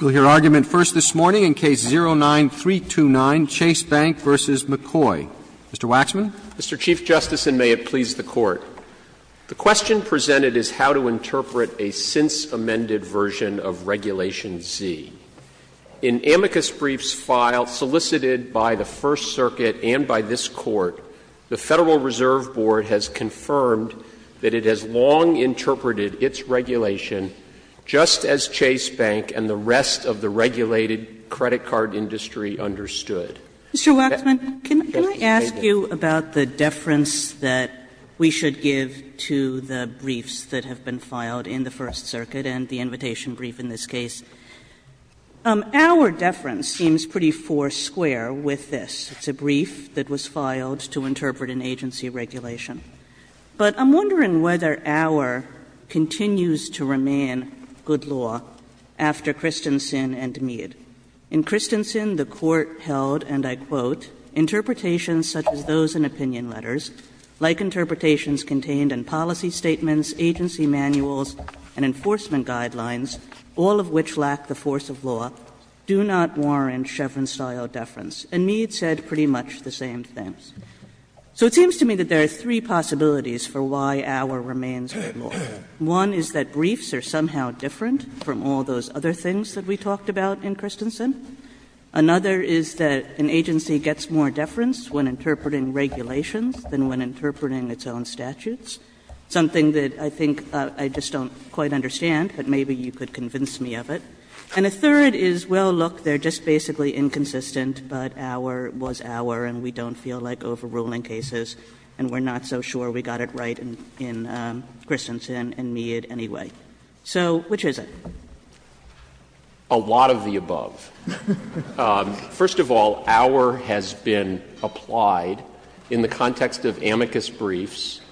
We'll hear argument first this morning in Case 09-329, Chase Bank v. McCoy. Mr. Waxman? Mr. Chief Justice, and may it please the Court, the question presented is how to interpret a since-amended version of Regulation Z. In amicus briefs filed, solicited by the First Circuit and by this Court, the Federal Reserve Board has confirmed that it has long interpreted its regulation just as Chase Bank and the rest of the regulated credit card industry understood. Mr. Waxman, can I ask you about the deference that we should give to the briefs that have been filed in the First Circuit and the invitation brief in this case? Our deference seems pretty foursquare with this. It's a brief that was filed to interpret an agency regulation. But I'm wondering whether our continues to remain good law after Christensen and Mead. In Christensen, the Court held, and I quote, "...interpretations such as those in opinion letters, like interpretations contained in policy statements, agency manuals, and enforcement guidelines, all of which lack the force of law, do not warrant Chevron-style deference." And Mead said pretty much the same things. So it seems to me that there are three possibilities for why our remains good law. One is that briefs are somehow different from all those other things that we talked about in Christensen. Another is that an agency gets more deference when interpreting regulations than when interpreting its own statutes, something that I think I just don't quite understand, but maybe you could convince me of it. And a third is, well, look, they're just basically inconsistent, but our was our and we don't feel like overruling cases, and we're not so sure we got it right in Christensen and Mead anyway. So which is it? Waxman. A lot of the above. First of all, our has been applied in the context of amicus briefs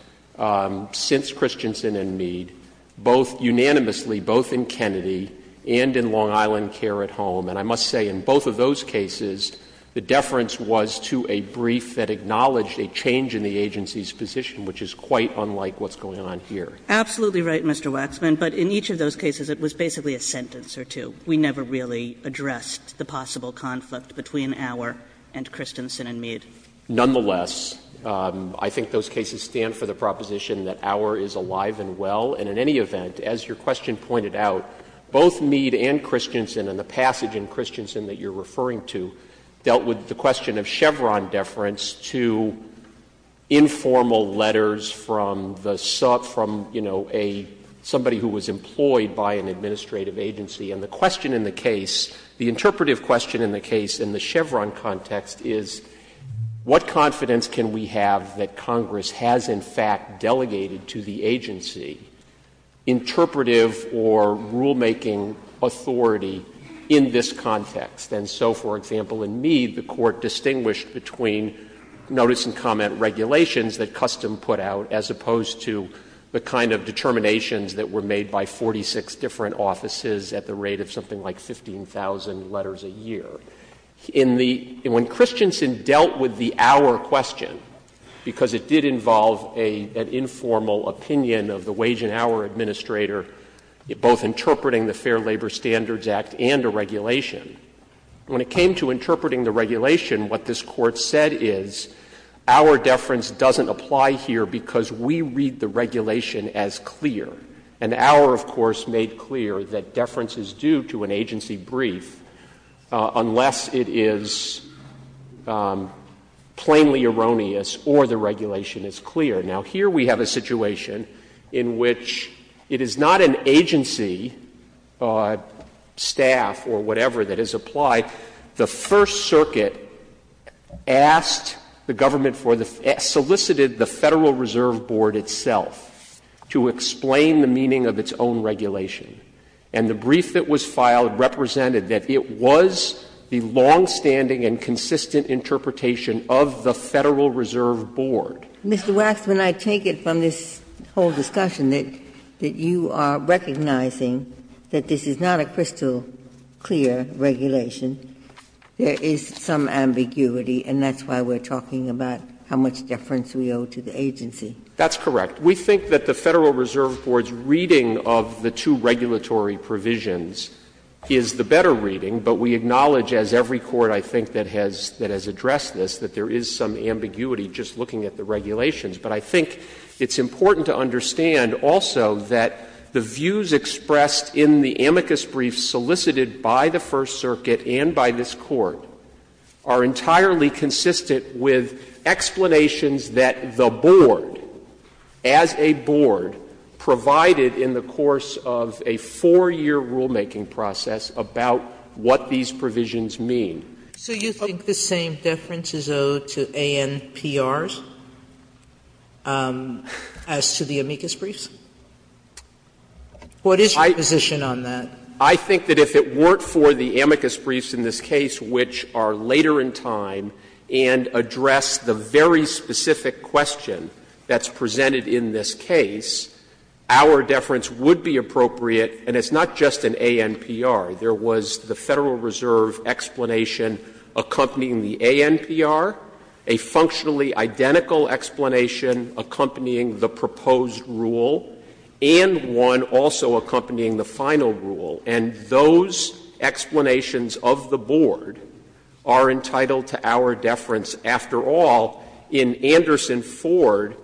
since Christensen and Mead, both unanimously, both in Kennedy and in Long Island Care at Home. And I must say, in both of those cases, the deference was to a brief that acknowledged a change in the agency's position, which is quite unlike what's going on here. Absolutely right, Mr. Waxman, but in each of those cases it was basically a sentence or two. We never really addressed the possible conflict between our and Christensen and Mead. Nonetheless, I think those cases stand for the proposition that our is alive and well. And in any event, as your question pointed out, both Mead and Christensen and the passage in Christensen that you're referring to dealt with the question of Chevron deference to informal letters from the sub — from, you know, a — somebody who was employed by an administrative agency. And the question in the case, the interpretive question in the case in the Chevron context is, what confidence can we have that Congress has in fact delegated to the agency interpretive or rulemaking authority in this context? And so, for example, in Mead, the Court distinguished between notice and comment regulations that Custom put out as opposed to the kind of determinations that were made by 46 different offices at the rate of something like 15,000 letters a year. In the — when Christensen dealt with the our question, because it did involve an informal opinion of the wage and hour administrator, both interpreting the Fair Labor Standards Act and a regulation. When it came to interpreting the regulation, what this Court said is, our deference doesn't apply here because we read the regulation as clear. And our, of course, made clear that deference is due to an agency brief unless it is plainly erroneous or the regulation is clear. Now, here we have a situation in which it is not an agency, staff or whatever, that is applied. The First Circuit asked the government for the — solicited the Federal Reserve Board itself to explain the meaning of its own regulation. And the brief that was filed represented that it was the longstanding and consistent interpretation of the Federal Reserve Board. Ginsburg. Mr. Waxman, I take it from this whole discussion that you are recognizing that this is not a crystal clear regulation. There is some ambiguity, and that's why we're talking about how much deference we owe to the agency. That's correct. We think that the Federal Reserve Board's reading of the two regulatory provisions is the better reading, but we acknowledge, as every court, I think, that has addressed this, that there is some ambiguity just looking at the regulations. But I think it's important to understand also that the views expressed in the amicus brief solicited by the First Circuit and by this Court are entirely consistent with explanations that the board, as a board, provided in the course of a four-year rulemaking process about what these provisions mean. So you think the same deference is owed to ANPRs as to the amicus briefs? What is your position on that? I think that if it weren't for the amicus briefs in this case, which are later in time and address the very specific question that's presented in this case, our deference would be appropriate, and it's not just an ANPR. There was the Federal Reserve explanation accompanying the ANPR, a functionally identical explanation accompanying the proposed rule, and one also accompanying the final rule. And those explanations of the board are entitled to our deference. After all, in Anderson-Ford,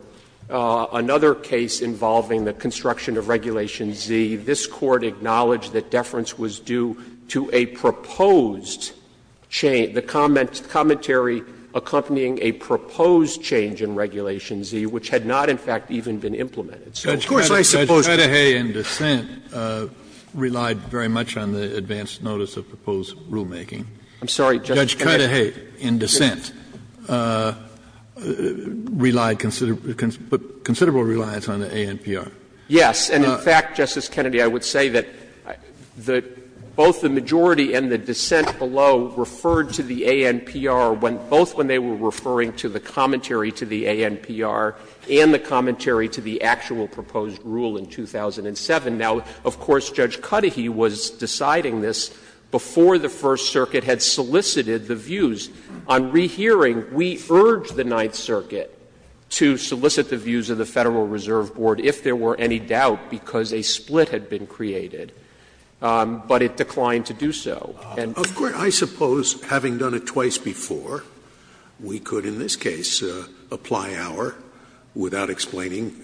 another case involving the construction of Regulation Z, this Court acknowledged that deference was due to a proposed change, the commentary accompanying a proposed change in Regulation Z, which had not in fact even been implemented. Kennedy, you're not very much on the advance notice of proposed rulemaking. I'm sorry, Justice Kennedy. Judge Cudahy, in dissent, relied considerable reliance on the ANPR. Yes, and in fact, Justice Kennedy, I would say that both the majority and the dissent below referred to the ANPR when both when they were referring to the commentary to the ANPR and the commentary to the actual proposed rule in 2007. Now, of course, Judge Cudahy was deciding this before the First Circuit had solicited the views. On rehearing, we urged the Ninth Circuit to solicit the views of the Federal Reserve Board if there were any doubt because a split had been created, but it declined to do so. And of course, I suppose, having done it twice before, we could, in this case, apply our without explaining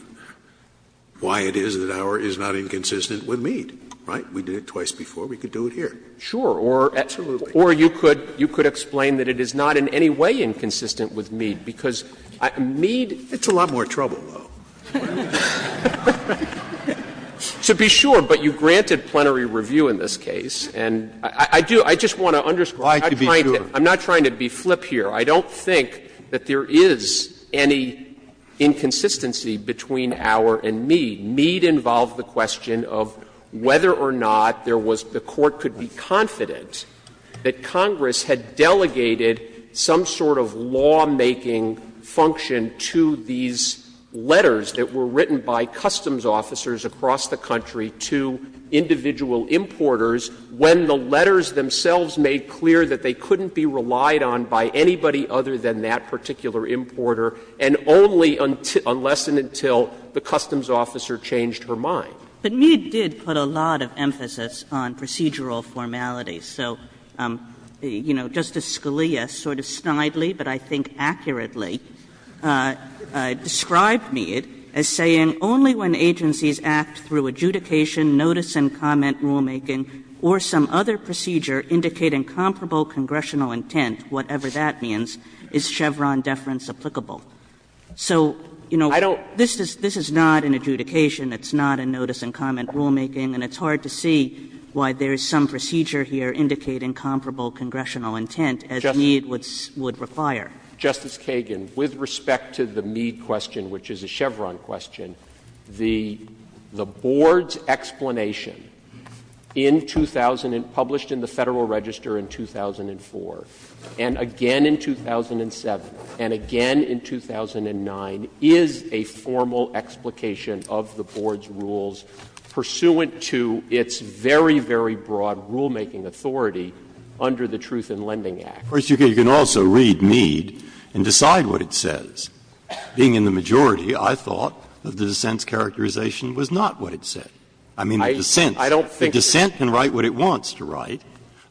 why it is that our is not inconsistent with Mead, right? We did it twice before. We could do it here. Sure. Or you could explain that it is not in any way inconsistent with Mead, because Mead It's a lot more trouble, though. So be sure, but you granted plenary review in this case, and I just want to understand. I'm not trying to be flip here. I don't think that there is any inconsistency between our and Mead. Mead involved the question of whether or not there was the court could be confident that Congress had delegated some sort of lawmaking function to these letters that were written by customs officers across the country to individual importers when the letters themselves made clear that they couldn't be relied on by anybody other than that particular importer, and only unless and until the customs officer changed her mind. But Mead did put a lot of emphasis on procedural formalities. So, you know, Justice Scalia sort of snidely, but I think accurately, described Mead as saying only when agencies act through adjudication, notice and comment rulemaking, or some other procedure indicating comparable congressional intent, whatever that means, is Chevron deference applicable. So, you know, this is not an adjudication. It's not a notice and comment rulemaking, and it's hard to see why there is some procedure here indicating comparable congressional intent as Mead would require. Justice Kagan, with respect to the Mead question, which is a Chevron question, the Board's explanation in 2000 and published in the Federal Register in 2004, and again in 2007, and again in 2009, is a formal explication of the Board's rules pursuant to its very, very broad rulemaking authority under the Truth in Lending Act. Breyer, of course, you can also read Mead and decide what it says. Being in the majority, I thought that the dissent's characterization was not what it said. I mean, the dissent can write what it wants to write,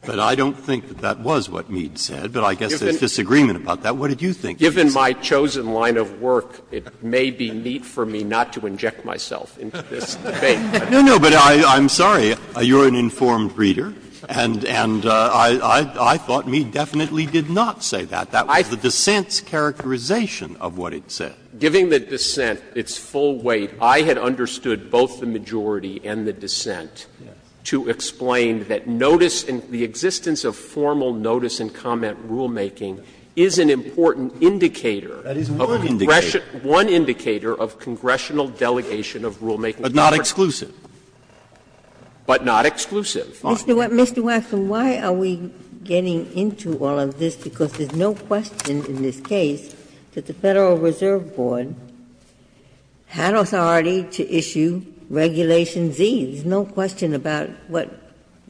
but I don't think that that was what Mead said. But I guess there is disagreement about that. What did you think it said? Waxman, Given my chosen line of work, it may be neat for me not to inject myself into this debate. Breyer, No, no, but I'm sorry. You're an informed reader, and I thought Mead definitely did not say that. That was the dissent's characterization of what it said. Waxman, Giving the dissent its full weight, I had understood both the majority and the dissent to explain that notice and the existence of formal notice and comment rulemaking is an important indicator of a congressional, one indicator of congressional delegation of rulemaking authority. Breyer, But not exclusive. But not exclusive. Ginsburg, Mr. Waxman, why are we getting into all of this? Because there is no question in this case that the Federal Reserve Board had authority to issue Regulation Z. There is no question about what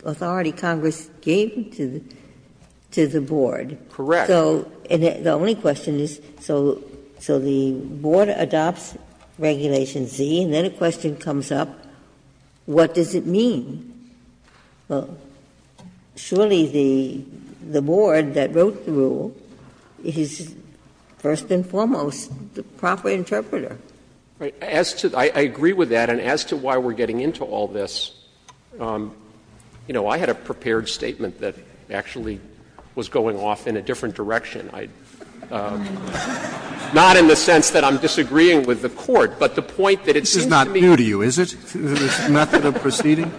authority Congress gave to the Board. Waxman, Correct. Ginsburg, So the only question is, so the Board adopts Regulation Z, and then a question comes up, what does it mean? Surely the Board that wrote the rule is, first and foremost, the proper interpreter. Waxman, I agree with that, and as to why we are getting into all of this, you know, I had a prepared statement that actually was going off in a different direction. Not in the sense that I'm disagreeing with the Court, but the point that it's in the interest of you, is it, this method of proceeding?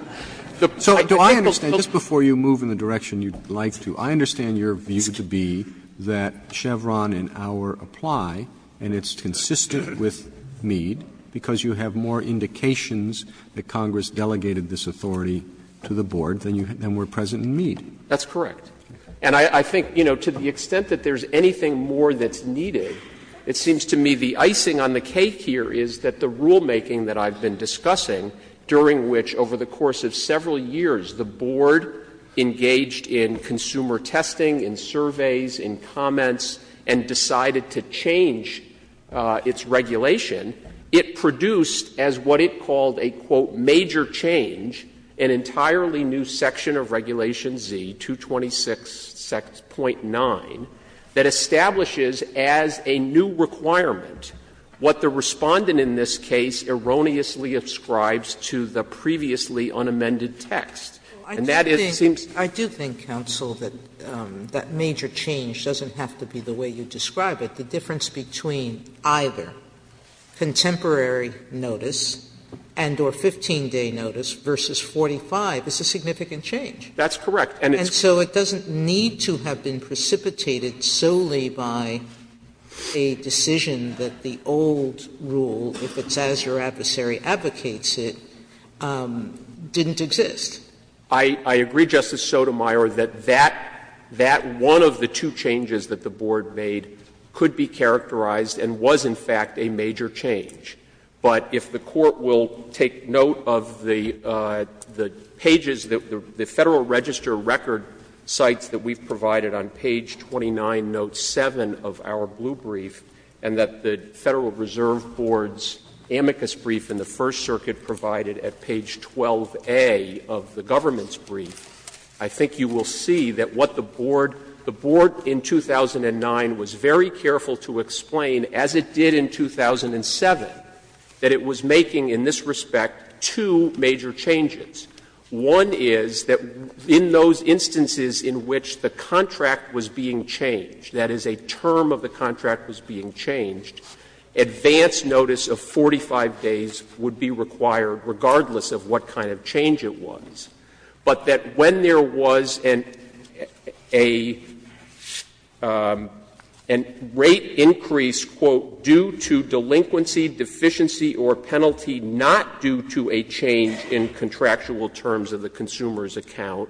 So do I understand, just before you move in the direction you'd like to, I understand your view to be that Chevron and Auer apply, and it's consistent with Mead, because you have more indications that Congress delegated this authority to the Board than were present in Mead. Waxman, That's correct. And I think, you know, to the extent that there's anything more that's needed, It seems to me the icing on the cake here is that the rulemaking that I've been discussing, during which, over the course of several years, the Board engaged in consumer testing, in surveys, in comments, and decided to change its regulation, it produced a major change, an entirely new section of Regulation Z, 226.9, that establishes as a new requirement what the Respondent in this case erroneously ascribes to the previously unamended text, and that is, it seems to me. Sotomayor, I do think, counsel, that that major change doesn't have to be the way you describe it. The difference between either contemporary notice and or 15-day notice versus 45 is a significant change. That's correct. And so it doesn't need to have been precipitated solely by a decision that the old rule, if it's as your adversary advocates it, didn't exist. I agree, Justice Sotomayor, that that one of the two changes that the Board made could be characterized and was, in fact, a major change. But if the Court will take note of the pages, the Federal Register record sites that we've provided on page 29, note 7 of our blue brief, and that the Federal Reserve Board's amicus brief in the First Circuit provided at page 12a of the government's The Board in 2009 was very careful to explain, as it did in 2007, that it was making in this respect two major changes. One is that in those instances in which the contract was being changed, that is, a term of the contract was being changed, advance notice of 45 days would be required regardless of what kind of change it was. But that when there was a rate increase, quote, due to delinquency, deficiency or penalty, not due to a change in contractual terms of the consumer's account,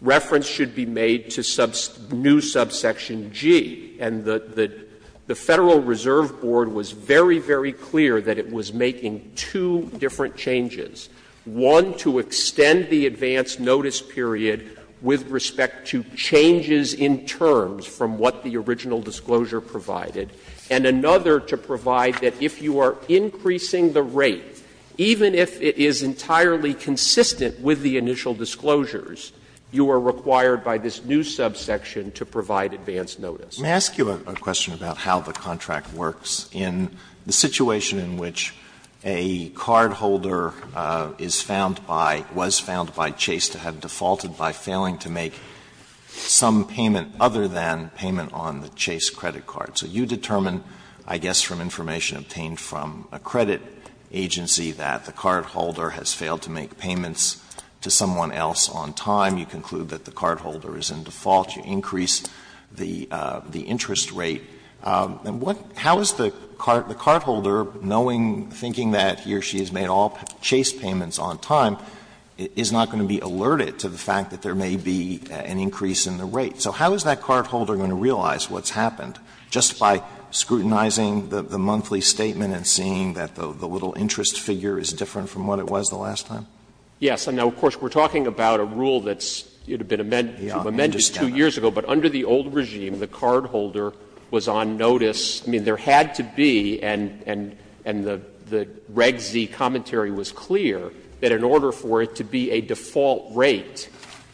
reference should be made to new subsection G. And the Federal Reserve Board was very, very clear that it was making two different changes, one to extend the advance notice period with respect to changes in terms from what the original disclosure provided, and another to provide that if you are increasing the rate, even if it is entirely consistent with the initial disclosures, you are required by this new subsection to provide advance notice. Alitoso, may I ask you a question about how the contract works in the situation in which a cardholder is found by, was found by Chase to have defaulted by failing to make some payment other than payment on the Chase credit card. So you determine, I guess from information obtained from a credit agency, that the cardholder has failed to make payments to someone else on time. You conclude that the cardholder is in default. You increase the interest rate. How is the cardholder, knowing, thinking that he or she has made all Chase payments on time, is not going to be alerted to the fact that there may be an increase in the rate? So how is that cardholder going to realize what's happened just by scrutinizing the monthly statement and seeing that the little interest figure is different from what it was the last time? Waxman. Yes. And now, of course, we're talking about a rule that's, it had been amended 2 years ago, but under the old regime, the cardholder was on notice. I mean, there had to be, and the Reg Z commentary was clear, that in order for it to be a default rate,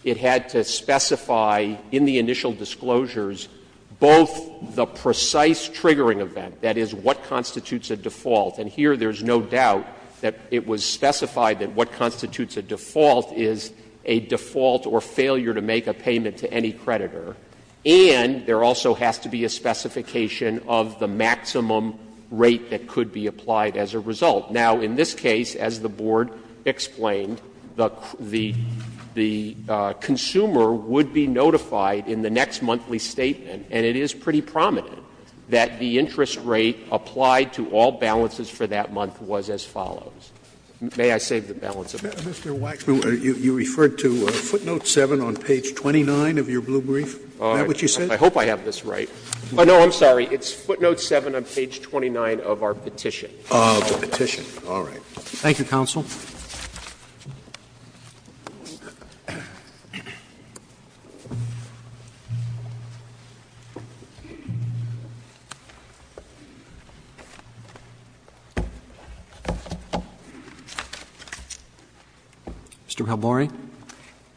it had to specify in the initial disclosures both the precise triggering event, that is, what constitutes a default. And here there's no doubt that it was specified that what constitutes a default is a default or failure to make a payment to any creditor. And there also has to be a specification of the maximum rate that could be applied as a result. Now, in this case, as the Board explained, the consumer would be notified in the next monthly statement, and it is pretty prominent, that the interest rate applied to all balances for that month was as follows. May I save the balance of my time? Mr. Waxman, you referred to footnote 7 on page 29 of your blue brief. Is that what you said? I hope I have this right. No, I'm sorry. It's footnote 7 on page 29 of our petition. Of the petition. All right. Thank you, counsel. Mr. Palmore.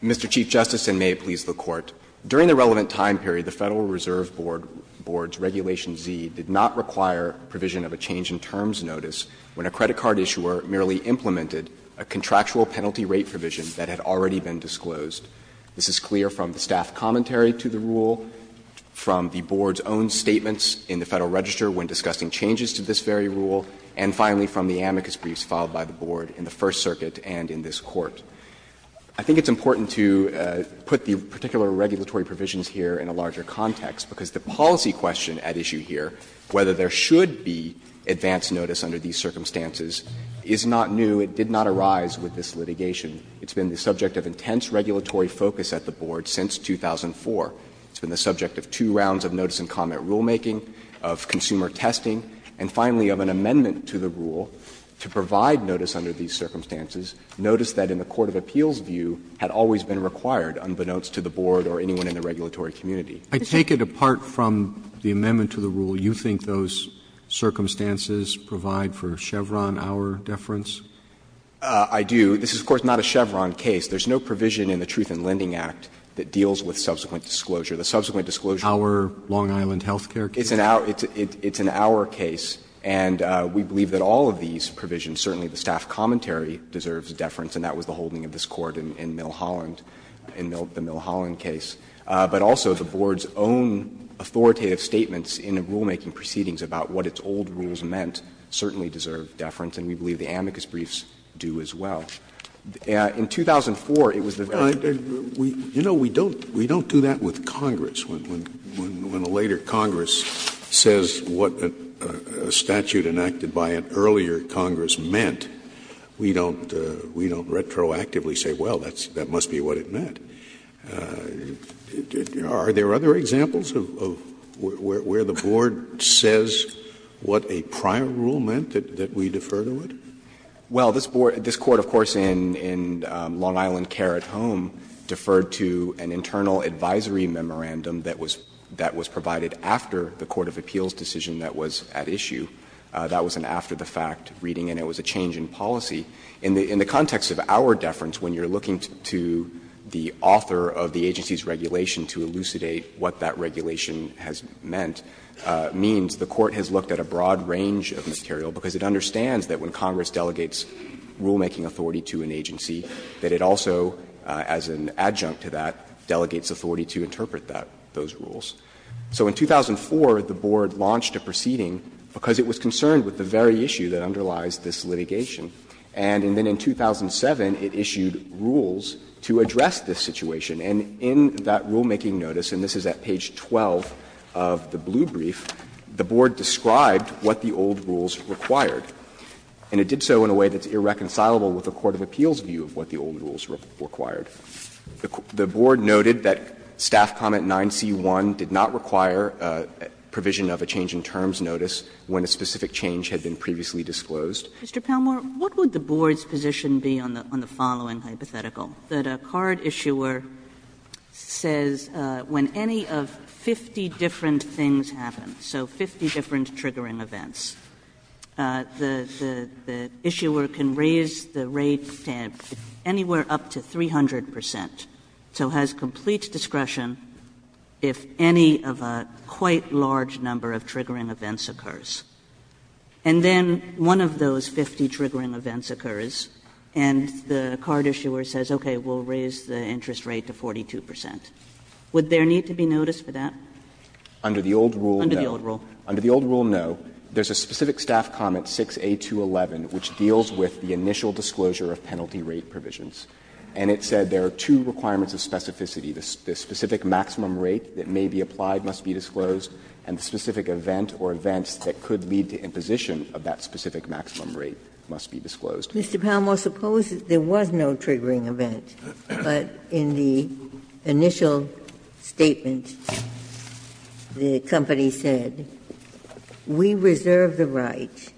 Mr. Chief Justice, and may it please the Court. During the relevant time period, the Federal Reserve Board's Regulation Z did not require provision of a change in terms notice when a credit card issuer merely implemented a contractual penalty rate provision that had already been disclosed. This is clear from the staff commentary to the rule, from the Board's own statements in the Federal Register when discussing changes to this very rule, and finally from the amicus briefs filed by the Board in the First Circuit and in this Court. I think it's important to put the particular regulatory provisions here in a larger context, because the policy question at issue here, whether there should be advance notice under these circumstances, is not new. It did not arise with this litigation. It's been the subject of intense regulatory focus at the Board since 2004. It's been the subject of two rounds of notice and comment rulemaking, of consumer testing, and finally of an amendment to the rule to provide notice under these circumstances, notice that in the court of appeals view had always been required, unbeknownst to the Board or anyone in the regulatory community. Roberts I take it apart from the amendment to the rule, you think those circumstances provide for Chevron hour deference? Palmore I do. This is, of course, not a Chevron case. There's no provision in the Truth in Lending Act that deals with subsequent disclosure. The subsequent disclosure is an hour case. Roberts Hour Long Island health care case? Palmore It's an hour case. And we believe that all of these provisions, certainly the staff commentary deserves deference, and that was the holding of this Court in Mill Holland, in the Mill Holland case. But also the Board's own authoritative statements in the rulemaking proceedings about what its old rules meant certainly deserve deference, and we believe the amicus briefs do as well. In 2004, it was the very same. Scalia You know, we don't do that with Congress. When a later Congress says what a statute enacted by an earlier Congress meant, we don't retroactively say, well, that must be what it meant. Are there other examples of where the Board says what a prior rule meant that we defer Palmore Well, this Board, this Court, of course, in Long Island care at home, deferred to an internal advisory memorandum that was provided after the court of appeals decision that was at issue. That was an after-the-fact reading, and it was a change in policy. In the context of our deference, when you are looking to the author of the agency's regulation to elucidate what that regulation has meant, means the Court has looked at a broad range of material, because it understands that when Congress delegates rulemaking authority to an agency, that it also, as an adjunct to that, delegates authority to interpret that, those rules. So in 2004, the Board launched a proceeding because it was concerned with the very issue that underlies this litigation. And then in 2007, it issued rules to address this situation. And in that rulemaking notice, and this is at page 12 of the blue brief, the Board described what the old rules required. And it did so in a way that's irreconcilable with the court of appeals view of what the old rules required. The Board noted that staff comment 9C1 did not require provision of a change in terms of notice when a specific change had been previously disclosed. Kagan. Mr. Palmore, what would the Board's position be on the following hypothetical? That a card issuer says when any of 50 different things happen, so 50 different triggering events, the issuer can raise the rate anywhere up to 300 percent, so has complete discretion if any of a quite large number of triggering events occurs. And then one of those 50 triggering events occurs, and the card issuer says, okay, we'll raise the interest rate to 42 percent. Would there need to be notice for that? Under the old rule, no. Under the old rule. Under the old rule, no. There's a specific staff comment 6A211, which deals with the initial disclosure of penalty rate provisions. And it said there are two requirements of specificity. The specific maximum rate that may be applied must be disclosed, and the specific event or events that could lead to imposition of that specific maximum rate must be disclosed. Ginsburg. Mr. Palmore, suppose there was no triggering event, but in the initial statement the company said, we reserve the right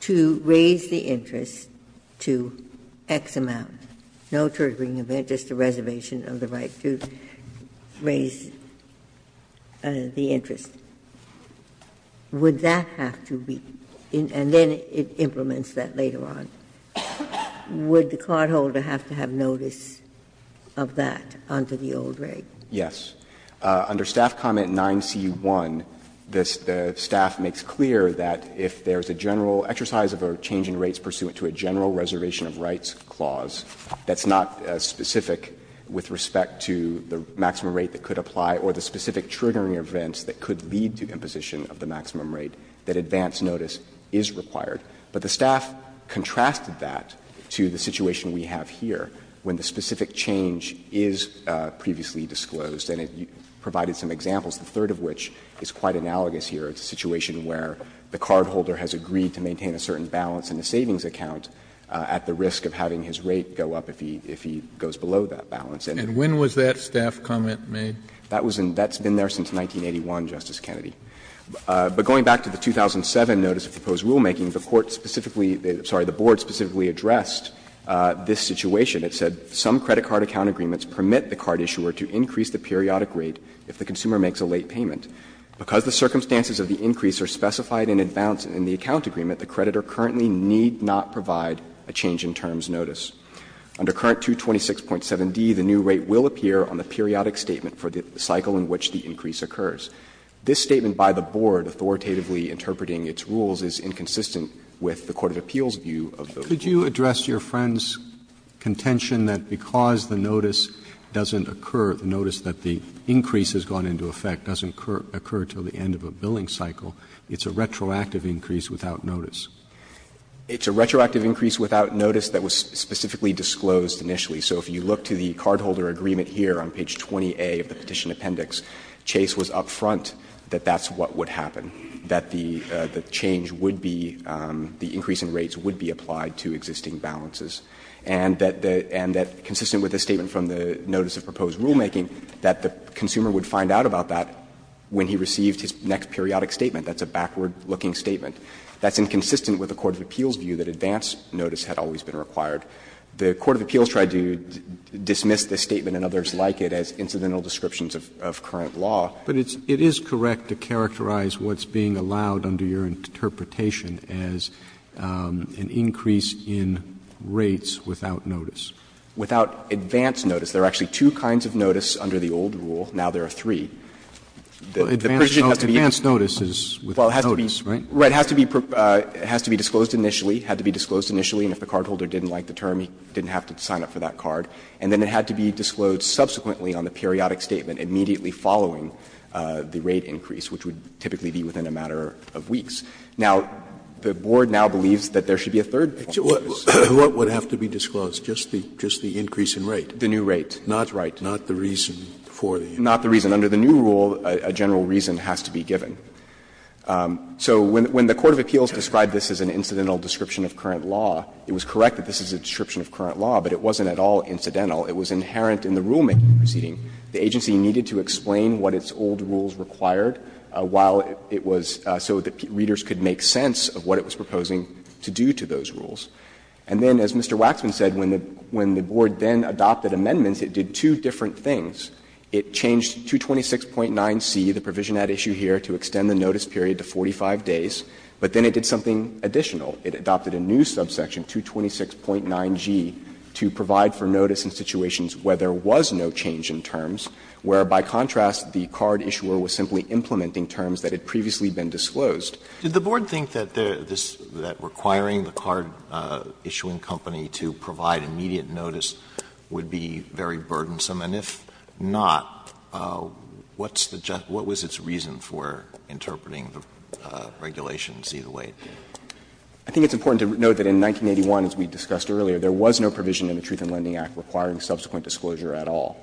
to raise the interest to X amount, no triggering event, just a reservation of the right to raise the interest. Would that have to be and then it implements that later on. Would the cardholder have to have notice of that under the old rate? Yes. Under staff comment 9C1, the staff makes clear that if there's a general exercise of a change in rates pursuant to a general reservation of rights clause that's not specific with respect to the maximum rate that could apply or the specific triggering events that could lead to imposition of the maximum rate, that advance notice is required. But the staff contrasted that to the situation we have here, when the specific change is previously disclosed, and it provided some examples, the third of which is quite analogous here. It's a situation where the cardholder has agreed to maintain a certain balance in a savings account at the risk of having his rate go up if he goes below that balance. And when was that staff comment made? That's been there since 1981, Justice Kennedy. But going back to the 2007 notice of proposed rulemaking, the Court specifically the Board specifically addressed this situation. It said, ''Some credit card account agreements permit the card issuer to increase the periodic rate if the consumer makes a late payment. Because the circumstances of the increase are specified in advance in the account agreement, the creditor currently need not provide a change in terms notice. Under current 226.7d, the new rate will appear on the periodic statement for the cycle in which the increase occurs. This statement by the Board authoritatively interpreting its rules is inconsistent with the court of appeals view of the Board. Roberts Could you address your friend's contention that because the notice doesn't occur, the notice that the increase has gone into effect doesn't occur until the end of a billing cycle, it's a retroactive increase without notice? It's a retroactive increase without notice that was specifically disclosed initially. So if you look to the cardholder agreement here on page 20A of the petition appendix, Chase was up front that that's what would happen, that the change would be, the increase in rates would be applied to existing balances, and that consistent with the statement from the notice of proposed rulemaking, that the consumer would find out about that when he received his next periodic statement. That's a backward-looking statement. That's inconsistent with the court of appeals view that advance notice had always been required. The court of appeals tried to dismiss this statement and others like it as incidental descriptions of current law. Roberts But it is correct to characterize what's being allowed under your interpretation as an increase in rates without notice. Without advance notice. There are actually two kinds of notice under the old rule. Now there are three. The petition has to be. Advance notice is without notice, right? Right. It has to be disclosed initially, had to be disclosed initially, and if the cardholder didn't like the term, he didn't have to sign up for that card. And then it had to be disclosed subsequently on the periodic statement immediately following the rate increase, which would typically be within a matter of weeks. Now, the board now believes that there should be a third clause. What would have to be disclosed, just the increase in rate? Roberts The new rate. Scalia Not the reason for the increase. Roberts Not the reason. Under the new rule, a general reason has to be given. So when the court of appeals described this as an incidental description of current law, it was correct that this is a description of current law, but it wasn't at all incidental. It was inherent in the rulemaking proceeding. The agency needed to explain what its old rules required while it was so that readers could make sense of what it was proposing to do to those rules. And then, as Mr. Waxman said, when the board then adopted amendments, it did two different things. It changed 226.9c, the provision at issue here, to extend the notice period to 45 days, but then it did something additional. It adopted a new subsection, 226.9g, to provide for notice in situations where there was no change in terms, where, by contrast, the card issuer was simply implementing terms that had previously been disclosed. Alito Did the board think that requiring the card issuing company to provide immediate notice would be very burdensome? And if not, what was its reason for interpreting the regulations either way? I think it's important to note that in 1981, as we discussed earlier, there was no provision in the Truth in Lending Act requiring subsequent disclosure at all.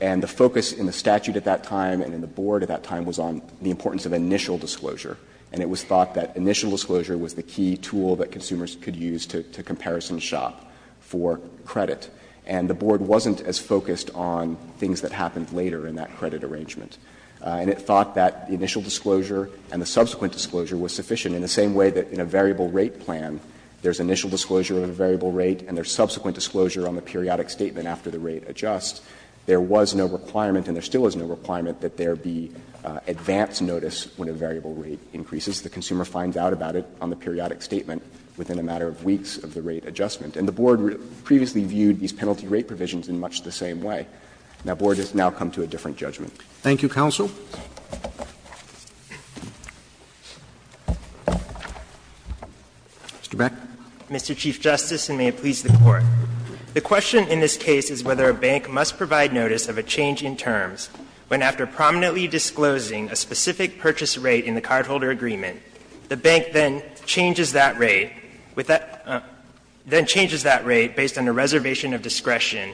And the focus in the statute at that time and in the board at that time was on the importance of initial disclosure. And it was thought that initial disclosure was the key tool that consumers could use to comparison shop for credit. And the board wasn't as focused on things that happened later in that credit arrangement. And it thought that the initial disclosure and the subsequent disclosure was sufficient in the same way that in a variable rate plan, there's initial disclosure of a variable rate and there's subsequent disclosure on the periodic statement after the rate adjusts, there was no requirement and there still is no requirement that there be advance notice when a variable rate increases. The consumer finds out about it on the periodic statement within a matter of weeks of the rate adjustment. And the board previously viewed these penalty rate provisions in much the same way. Now, the board has now come to a different judgment. Roberts. Thank you, counsel. Mr. Beck. Mr. Chief Justice, and may it please the Court. The question in this case is whether a bank must provide notice of a change in terms when, after prominently disclosing a specific purchase rate in the cardholder agreement, the bank then changes that rate with that – then changes that rate based on a reservation of discretion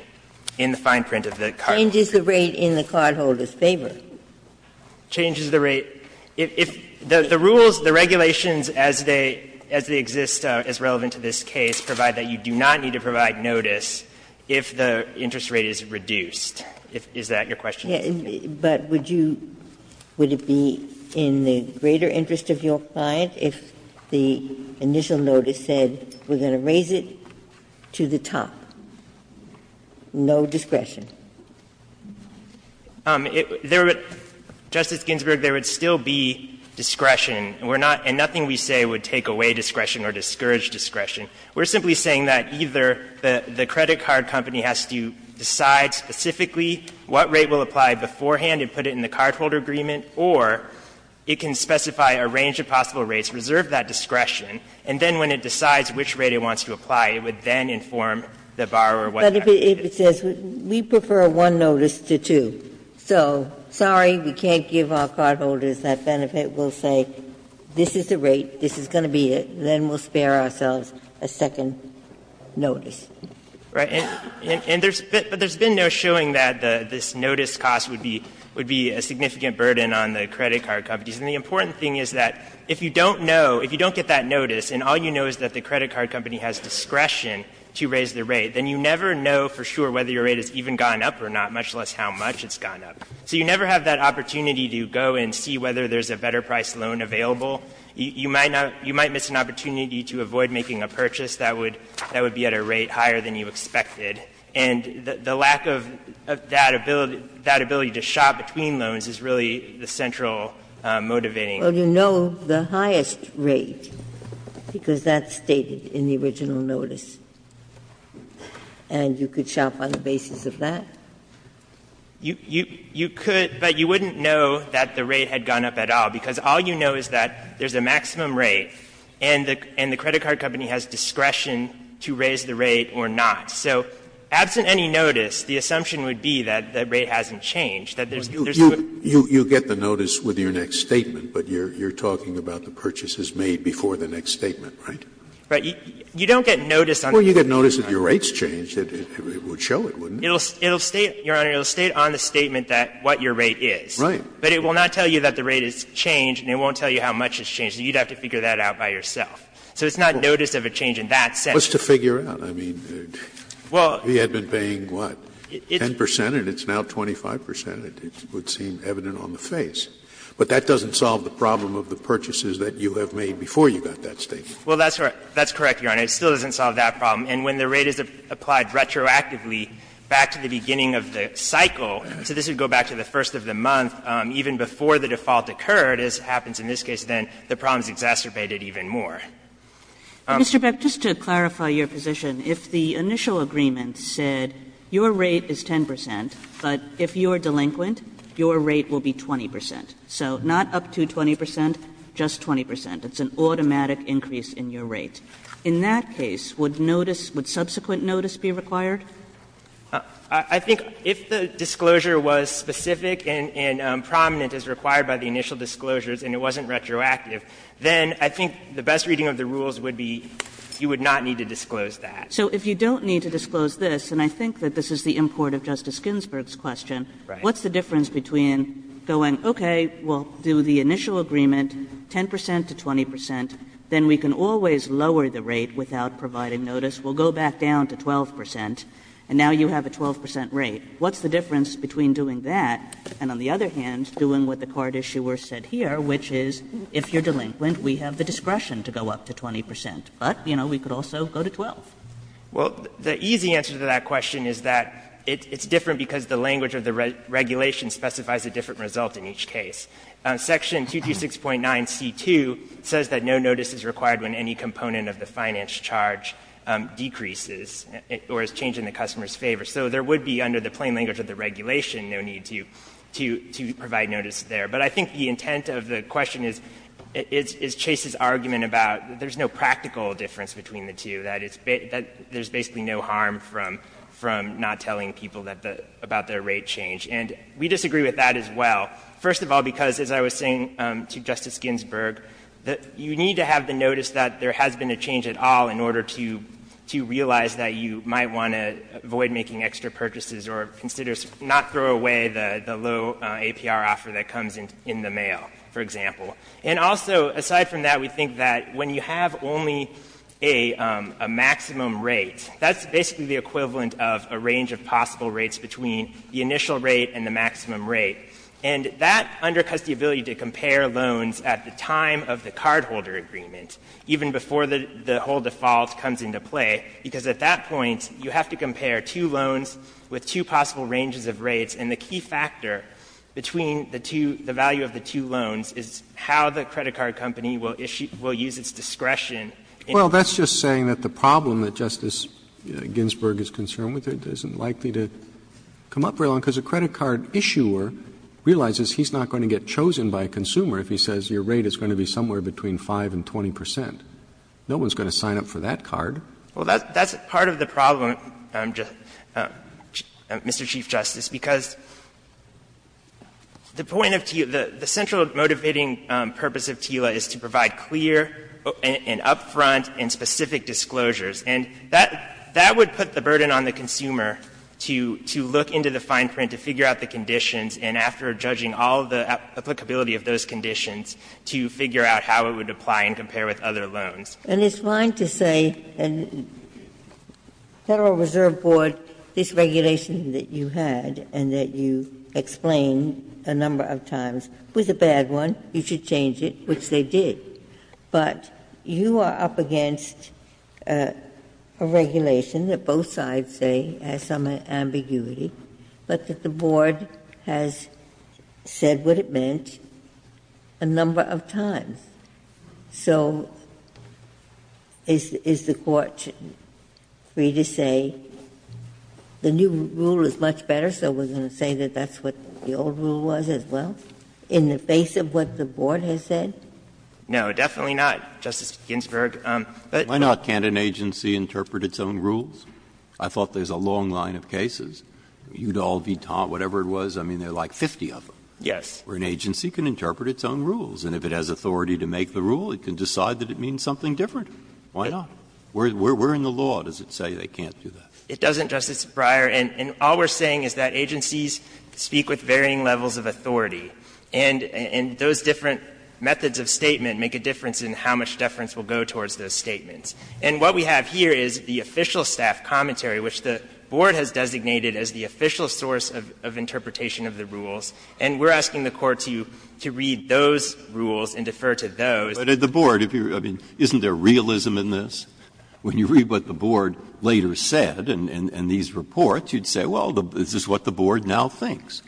in the fine print of the cardholder's favor. Changes the rate in the cardholder's favor. Changes the rate. If the rules, the regulations as they exist as relevant to this case provide that you do not need to provide notice if the interest rate is reduced. Is that your question? But would you – would it be in the greater interest of your client if the initial notice said, we're going to raise it to the top, no discretion? There would – Justice Ginsburg, there would still be discretion. We're not – and nothing we say would take away discretion or discourage discretion. We're simply saying that either the credit card company has to decide specifically what rate will apply beforehand and put it in the cardholder agreement, or it can And then when it decides which rate it wants to apply, it would then inform the borrower what that rate is. But if it says, we prefer one notice to two, so, sorry, we can't give our cardholders that benefit, we'll say, this is the rate, this is going to be it, then we'll spare ourselves a second notice. Right. And there's – but there's been no showing that this notice cost would be – would be a significant burden on the credit card companies. And the important thing is that if you don't know, if you don't get that notice and all you know is that the credit card company has discretion to raise the rate, then you never know for sure whether your rate has even gone up or not, much less how much it's gone up. So you never have that opportunity to go and see whether there's a better-priced loan available. You might not – you might miss an opportunity to avoid making a purchase that would – that would be at a rate higher than you expected. And the lack of that ability – that ability to shop between loans is really the central motivating factor. Ginsburg. Well, you know the highest rate, because that's stated in the original notice. And you could shop on the basis of that? You could, but you wouldn't know that the rate had gone up at all, because all you know is that there's a maximum rate and the credit card company has discretion to raise the rate or not. So absent any notice, the assumption would be that the rate hasn't changed, that there's not a difference. You get the notice with your next statement, but you're talking about the purchases made before the next statement, right? Right. You don't get notice on the next statement. Well, you get notice if your rate's changed. It would show it, wouldn't it? It'll state, Your Honor, it'll state on the statement that what your rate is. Right. But it will not tell you that the rate has changed and it won't tell you how much it's changed. So you'd have to figure that out by yourself. So it's not notice of a change in that sense. Well, it's to figure out. I mean, we had been paying, what, 10 percent and it's now 25 percent. It would seem evident on the face. But that doesn't solve the problem of the purchases that you have made before you got that statement. Well, that's correct, Your Honor. It still doesn't solve that problem. And when the rate is applied retroactively back to the beginning of the cycle, so this would go back to the first of the month, even before the default occurred, as happens in this case, then the problem is exacerbated even more. Mr. Beck, just to clarify your position, if the initial agreement said your rate is 10 percent, but if you are delinquent, your rate will be 20 percent. So not up to 20 percent, just 20 percent. It's an automatic increase in your rate. In that case, would notice – would subsequent notice be required? I think if the disclosure was specific and prominent as required by the initial disclosures and it wasn't retroactive, then I think the best reading of the rules would be you would not need to disclose that. So if you don't need to disclose this, and I think that this is the import of Justice Ginsburg's question, what's the difference between going, okay, we'll do the initial agreement, 10 percent to 20 percent, then we can always lower the rate without providing notice, we'll go back down to 12 percent, and now you have a 12 percent rate. What's the difference between doing that and, on the other hand, doing what the card issuer said here, which is if you're delinquent, we have the discretion to go up to 20 percent, but, you know, we could also go to 12. Well, the easy answer to that question is that it's different because the language of the regulation specifies a different result in each case. Section 226.9c2 says that no notice is required when any component of the finance charge decreases or is changed in the customer's favor. So there would be, under the plain language of the regulation, no need to provide notice there. But I think the intent of the question is Chase's argument about there's no practical difference between the two, that there's basically no harm from not telling people about their rate change. And we disagree with that as well, first of all, because, as I was saying to Justice Ginsburg, that you need to have the notice that there has been a change at all in order to realize that you might want to avoid making extra purchases or consider not throw away the low APR offer that comes in the mail, for example. And also, aside from that, we think that when you have only a maximum rate, that's basically the equivalent of a range of possible rates between the initial rate and the maximum rate. And that undercuts the ability to compare loans at the time of the cardholder agreement, even before the whole default comes into play, because at that point you have to compare two loans with two possible ranges of rates. And the key factor between the two, the value of the two loans, is how the credit card company will issue, will use its discretion. Roberts, Well, that's just saying that the problem that Justice Ginsburg is concerned with isn't likely to come up very long, because a credit card issuer realizes he's not going to get chosen by a consumer if he says your rate is going to be somewhere between 5 and 20 percent. No one's going to sign up for that card. Well, that's part of the problem, Mr. Chief Justice, because the point of TILA – the central motivating purpose of TILA is to provide clear and up-front and specific disclosures. And that would put the burden on the consumer to look into the fine print, to figure out the conditions, and after judging all the applicability of those conditions, to figure out how it would apply and compare with other loans. Ginsburg And it's fine to say, Federal Reserve Board, this regulation that you had and that you explained a number of times was a bad one. You should change it, which they did. But you are up against a regulation that both sides say has some ambiguity, but that the Board has said what it meant a number of times. So is the Court free to say the new rule is much better, so we're going to say that that's what the old rule was as well, in the face of what the Board has said? No, definitely not, Justice Ginsburg. But why not? Can't an agency interpret its own rules? I thought there's a long line of cases, Udall, Vitant, whatever it was. I mean, there are like 50 of them. Yes. Breyer And an agency can interpret its own rules, and if it has authority to make the rule, it can decide that it means something different. Why not? We're in the law, does it say they can't do that? It doesn't, Justice Breyer, and all we're saying is that agencies speak with varying levels of authority, and those different methods of statement make a difference in how much deference will go towards those statements. And what we have here is the official staff commentary, which the Board has designated as the official source of interpretation of the rules. And we're asking the Court to read those rules and defer to those. Breyer But at the Board, isn't there realism in this? When you read what the Board later said in these reports, you'd say, well, this is what the Board now thinks.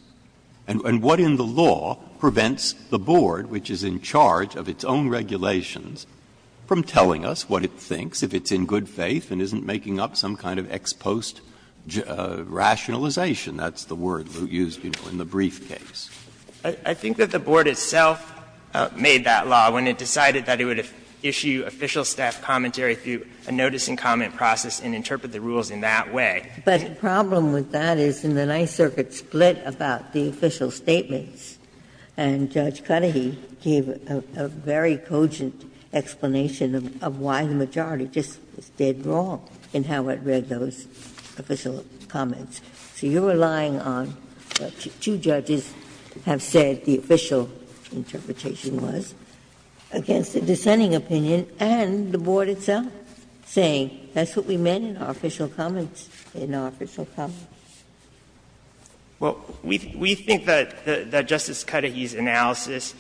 And what in the law prevents the Board, which is in charge of its own regulations, from telling us what it thinks if it's in good faith and isn't making up some kind of ex post rationalization? That's the word used, you know, in the briefcase. I think that the Board itself made that law when it decided that it would issue official staff commentary through a notice and comment process and interpret the rules in that way. But the problem with that is in the Ninth Circuit split about the official statements, and Judge Cudahy gave a very cogent explanation of why the majority just did wrong in how it read those official comments. So you're relying on what two judges have said the official interpretation was against the dissenting opinion and the Board itself, saying that's what we meant in our official comments, in our official comments. Well, we think that Justice Cudahy's analysis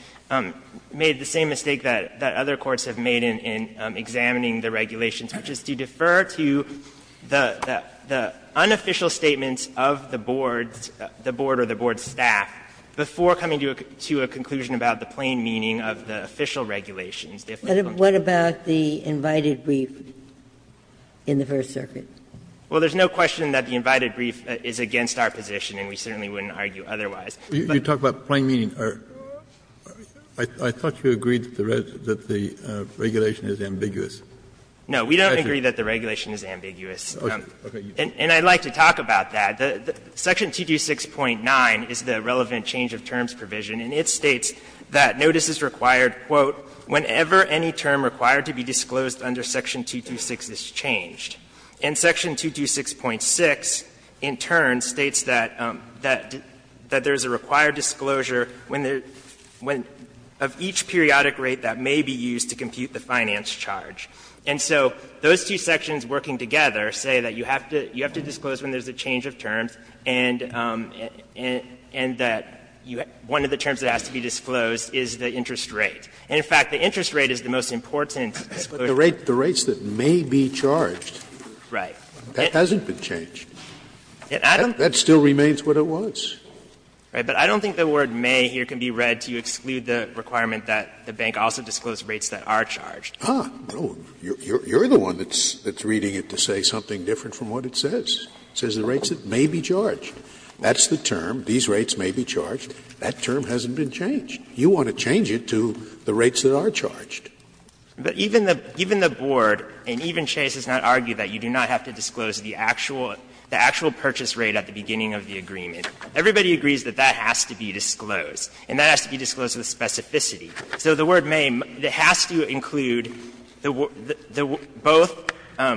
made the same mistake that other courts have made in examining the regulations, which is to defer to the unofficial statements of the Board, the Board or the Board's staff, before coming to a conclusion about the plain meaning of the official regulations. Ginsburg. What about the invited brief in the First Circuit? Well, there's no question that the invited brief is against our position, and we certainly wouldn't argue otherwise. You talk about plain meaning. I thought you agreed that the regulation is ambiguous. No, we don't agree that the regulation is ambiguous. And I'd like to talk about that. Section 226.9 is the relevant change of terms provision, and it states that notice is required, quote, "...whenever any term required to be disclosed under section 226 is changed. And section 226.6, in turn, states that there is a required disclosure of each periodic rate that may be used to compute the finance charge. And so those two sections working together say that you have to disclose when there is a change of terms, and that one of the terms that has to be disclosed is the interest rate. And, in fact, the interest rate is the most important disclosure. But the rates that may be charged, that hasn't been changed. That still remains what it was. But I don't think the word may here can be read to exclude the requirement that the bank also disclose rates that are charged. Scalia You're the one that's reading it to say something different from what it says. It says the rates that may be charged. That's the term, these rates may be charged. That term hasn't been changed. You want to change it to the rates that are charged. But even the board, and even Chase, does not argue that you do not have to disclose the actual purchase rate at the beginning of the agreement. Everybody agrees that that has to be disclosed, and that has to be disclosed with specificity. So the word may has to include both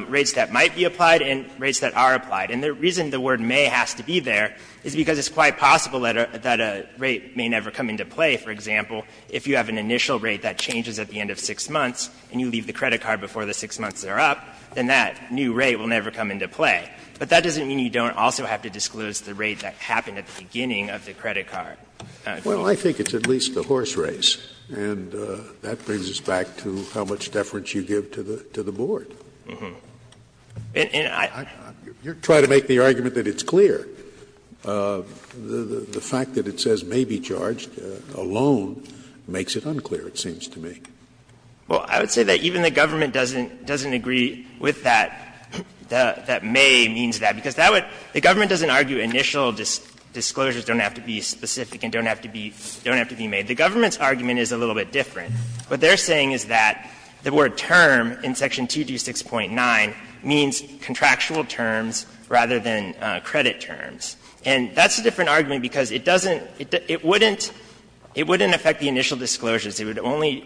rates that might be applied and rates that are applied. And the reason the word may has to be there is because it's quite possible that a rate may never come into play. For example, if you have an initial rate that changes at the end of 6 months and you leave the credit card before the 6 months are up, then that new rate will never come into play. But that doesn't mean you don't also have to disclose the rate that happened at the beginning of the credit card. Scalia. Well, I think it's at least a horse race, and that brings us back to how much deference you give to the board. You're trying to make the argument that it's clear. The fact that it says may be charged alone makes it unclear, it seems to me. Well, I would say that even the government doesn't agree with that, that may means that, because that would the government doesn't argue initial disclosures don't have to be specific and don't have to be made. The government's argument is a little bit different. What they're saying is that the word term in section 226.9 means contractual terms rather than credit terms. And that's a different argument because it doesn't, it wouldn't affect the initial disclosures. It would only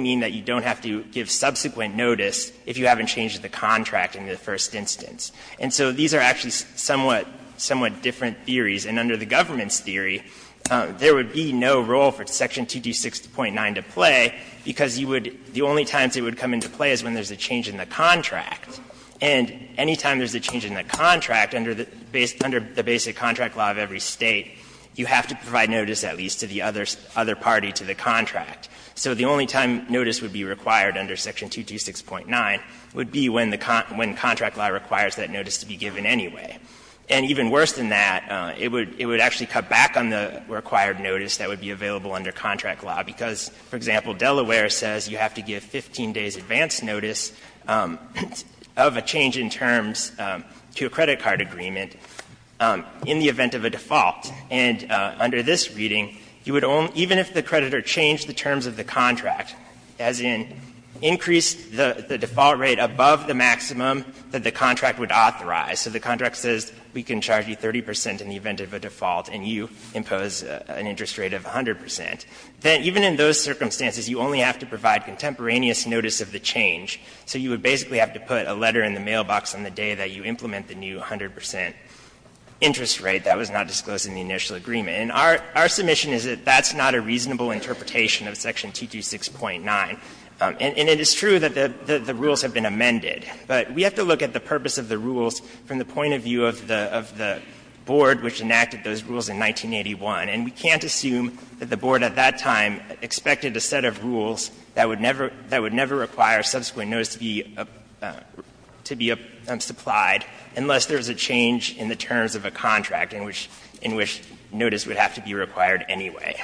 mean that you don't have to give subsequent notice if you haven't changed the contract in the first instance. And so these are actually somewhat different theories. And under the government's theory, there would be no role for section 226.9 to play because you would, the only times it would come into play is when there's a change in the contract. And any time there's a change in the contract under the basic contract law of every State, you have to provide notice at least to the other party to the contract. So the only time notice would be required under section 226.9 would be when the contract law requires that notice to be given anyway. And even worse than that, it would actually cut back on the required notice that would be available under contract law because, for example, Delaware says you have to give 15 days' advance notice of a change in terms to a credit card agreement in the event of a default. And under this reading, you would only, even if the creditor changed the terms of the contract, as in increased the default rate above the maximum that the contract would authorize. So the contract says we can charge you 30 percent in the event of a default and you impose an interest rate of 100 percent. Then even in those circumstances, you only have to provide contemporaneous notice of the change. So you would basically have to put a letter in the mailbox on the day that you implement the new 100 percent interest rate that was not disclosed in the initial agreement. And our submission is that that's not a reasonable interpretation of section 226.9. And it is true that the rules have been amended, but we have to look at the purpose of the rules from the point of view of the board which enacted those rules in 1981. And we can't assume that the board at that time expected a set of rules that would never require subsequent notice to be supplied unless there was a change in the terms of a contract in which notice would have to be required anyway.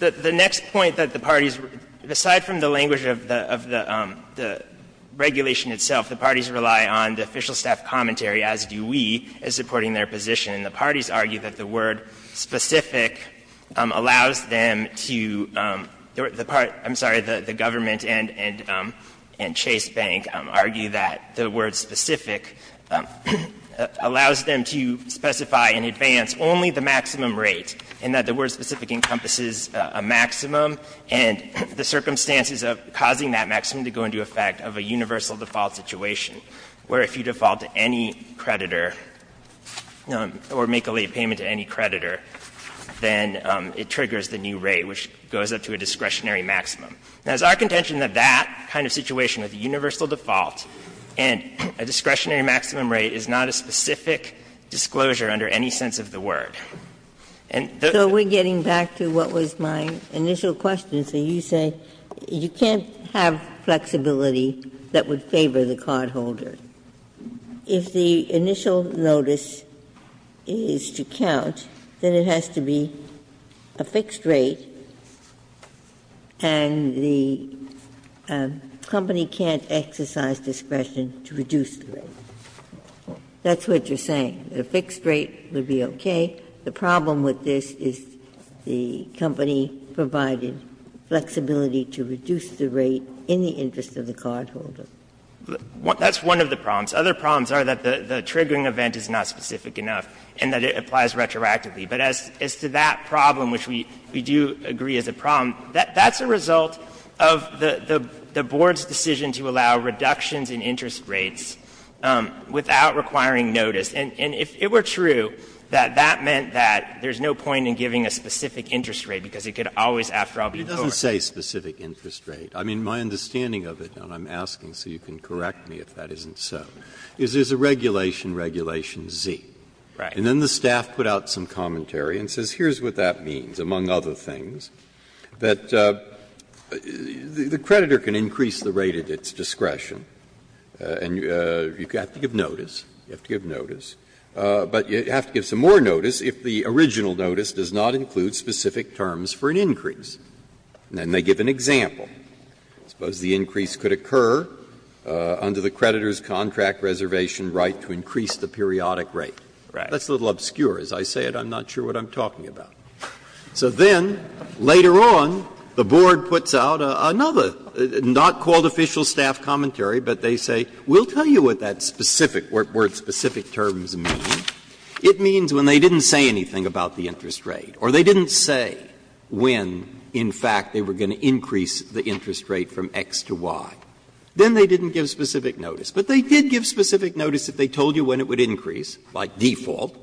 The next point that the parties, aside from the language of the subpoena, is that the regulation itself, the parties rely on the official staff commentary, as do we, as supporting their position. And the parties argue that the word specific allows them to the part, I'm sorry, the government and Chase Bank argue that the word specific allows them to specify in advance only the maximum rate and that the word specific encompasses a maximum and the circumstances of causing that maximum to go into effect of a universal default situation, where if you default to any creditor or make a late payment to any creditor, then it triggers the new rate, which goes up to a discretionary maximum. Now, it's our contention that that kind of situation with universal default and a discretionary maximum rate is not a specific disclosure under any sense of the word. And the Ginsburg So we're getting back to what was my initial question. So you say you can't have flexibility that would favor the cardholder. If the initial notice is to count, then it has to be a fixed rate, and the company can't exercise discretion to reduce the rate. That's what you're saying, that a fixed rate would be okay. The problem with this is the company provided flexibility to reduce the rate in the interest of the cardholder. That's one of the problems. Other problems are that the triggering event is not specific enough and that it applies retroactively. But as to that problem, which we do agree is a problem, that's a result of the Board's decision to allow reductions in interest rates without requiring notice. And if it were true, that that meant that there's no point in giving a specific interest rate, because it could always, after all, be a board. Breyer, it doesn't say specific interest rate. I mean, my understanding of it, and I'm asking so you can correct me if that isn't so, is there's a regulation, Regulation Z. And then the staff put out some commentary and says, here's what that means, among other things, that the creditor can increase the rate at its discretion, and you have to give notice. You have to give notice. But you have to give some more notice if the original notice does not include specific terms for an increase. And then they give an example. I suppose the increase could occur under the creditor's contract reservation right to increase the periodic rate. That's a little obscure. As I say it, I'm not sure what I'm talking about. So then, later on, the Board puts out another, not called official staff commentary, but they say, we'll tell you what that specific word, specific terms, means. It means when they didn't say anything about the interest rate, or they didn't say when, in fact, they were going to increase the interest rate from X to Y, then they didn't give specific notice. But they did give specific notice if they told you when it would increase, by default,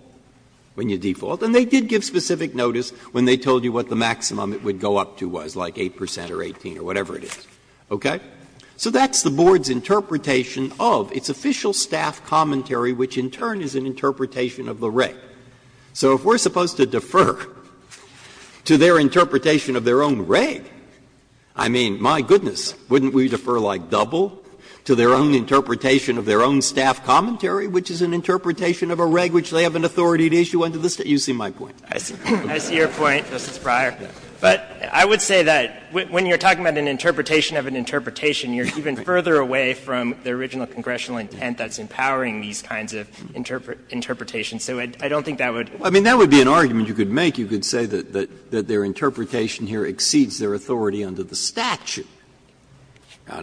when you default. And they did give specific notice when they told you what the maximum it would go up to was, like 8 percent or 18 or whatever it is. Okay? So that's the Board's interpretation of its official staff commentary, which in turn is an interpretation of the reg. So if we're supposed to defer to their interpretation of their own reg, I mean, my goodness, wouldn't we defer like double to their own interpretation of their own staff commentary, which is an interpretation of a reg which they have an authority to issue under the State? You see my point. I see your point, Justice Breyer. But I would say that when you're talking about an interpretation of an interpretation, you're even further away from the original congressional intent that's empowering these kinds of interpretations. So I don't think that would. Breyer. I mean, that would be an argument you could make. You could say that their interpretation here exceeds their authority under the statute.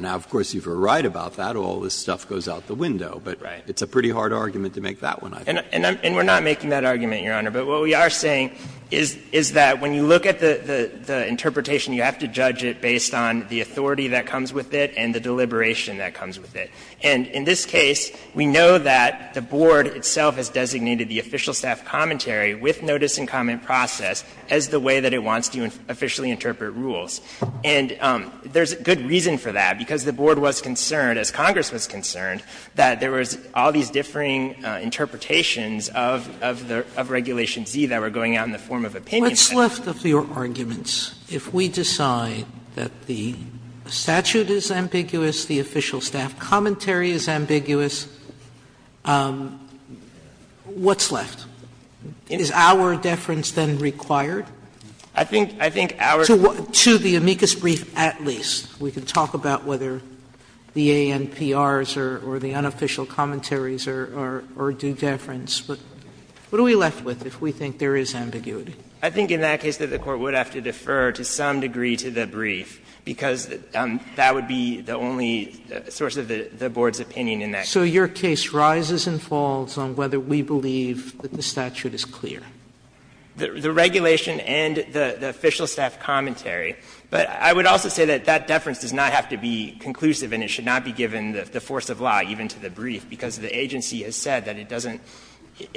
Now, of course, you're right about that. All this stuff goes out the window. But it's a pretty hard argument to make that one, I think. And we're not making that argument, Your Honor. But what we are saying is that when you look at the interpretation, you have to judge it based on the authority that comes with it and the deliberation that comes with it. And in this case, we know that the Board itself has designated the official staff commentary with notice and comment process as the way that it wants to officially interpret rules. And there's good reason for that, because the Board was concerned, as Congress was concerned, that there was all these differing interpretations of the regulation Z that were going out in the form of opinion. Sotomayor What's left of your arguments if we decide that the statute is ambiguous, the official staff commentary is ambiguous, what's left? Is our deference then required? I think our to what to the amicus brief at least we can talk about whether the ANPR or the unofficial commentaries are due deference. What are we left with if we think there is ambiguity? I think in that case that the Court would have to defer to some degree to the brief, because that would be the only source of the Board's opinion in that case. So your case rises and falls on whether we believe that the statute is clear? The regulation and the official staff commentary. But I would also say that that deference does not have to be conclusive and it should not be given the force of law, even to the brief, because the agency has said that it doesn't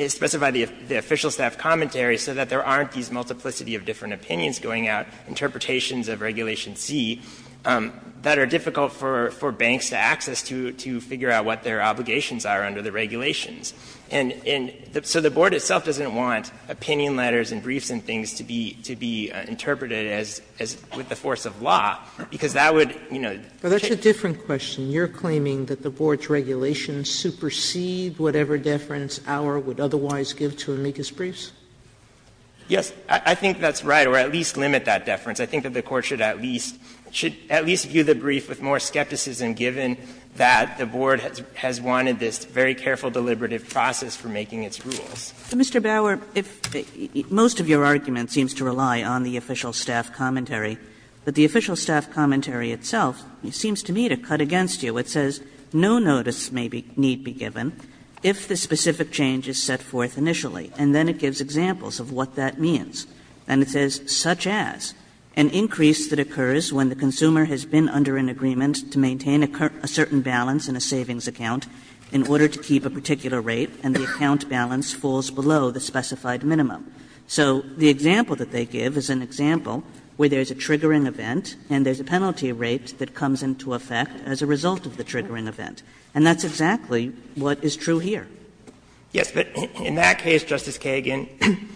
specify the official staff commentary, so that there aren't these multiplicity of different opinions going out, interpretations of regulation Z, that are difficult for banks to access to figure out what their obligations are under the regulations. And so the Board itself doesn't want opinion letters and briefs and things to be interpreted as with the force of law, because that would, you know, change. Sotomayor, that's a different question. You're claiming that the Board's regulations supersede whatever deference Auer would otherwise give to amicus briefs? Yes. I think that's right, or at least limit that deference. I think that the Court should at least view the brief with more skepticism, given that the Board has wanted this very careful, deliberative process for making its rules. Mr. Bauer, most of your argument seems to rely on the official staff commentary. But the official staff commentary itself seems to me to cut against you. It says, ''No notice may need be given if the specific change is set forth initially. '' And then it gives examples of what that means. And it says, ''Such as an increase that occurs when the consumer has been under an agreement to maintain a certain balance in a savings account in order to keep a particular rate and the account balance falls below the specified minimum. '' So the example that they give is an example where there's a triggering event and there's a penalty rate that comes into effect as a result of the triggering event. And that's exactly what is true here. Yes. But in that case, Justice Kagan,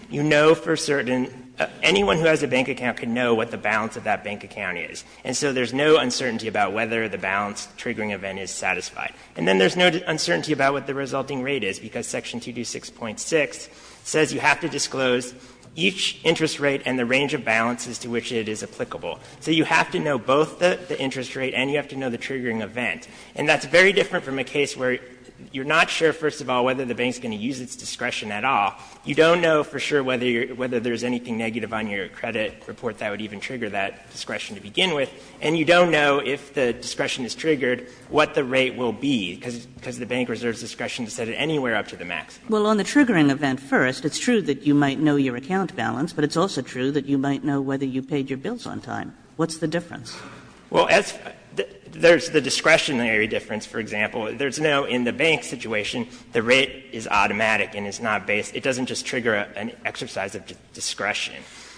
you know for certain anyone who has a bank account can know what the balance of that bank account is. And so there's no uncertainty about whether the balance triggering event is satisfied. And then there's no uncertainty about what the resulting rate is, because Section 226.6 says you have to disclose each interest rate and the range of balances to which it is applicable. So you have to know both the interest rate and you have to know the triggering event. And that's very different from a case where you're not sure, first of all, whether the bank is going to use its discretion at all. You don't know for sure whether there's anything negative on your credit report that would even trigger that discretion to begin with. And you don't know if the discretion is triggered what the rate will be, because the bank reserves discretion to set it anywhere up to the maximum. Kagan. Well, on the triggering event first, it's true that you might know your account balance, but it's also true that you might know whether you paid your bills on time. What's the difference? Well, there's the discretionary difference, for example. There's no, in the bank situation, the rate is automatic and it's not based, it doesn't just trigger an exercise of discretion.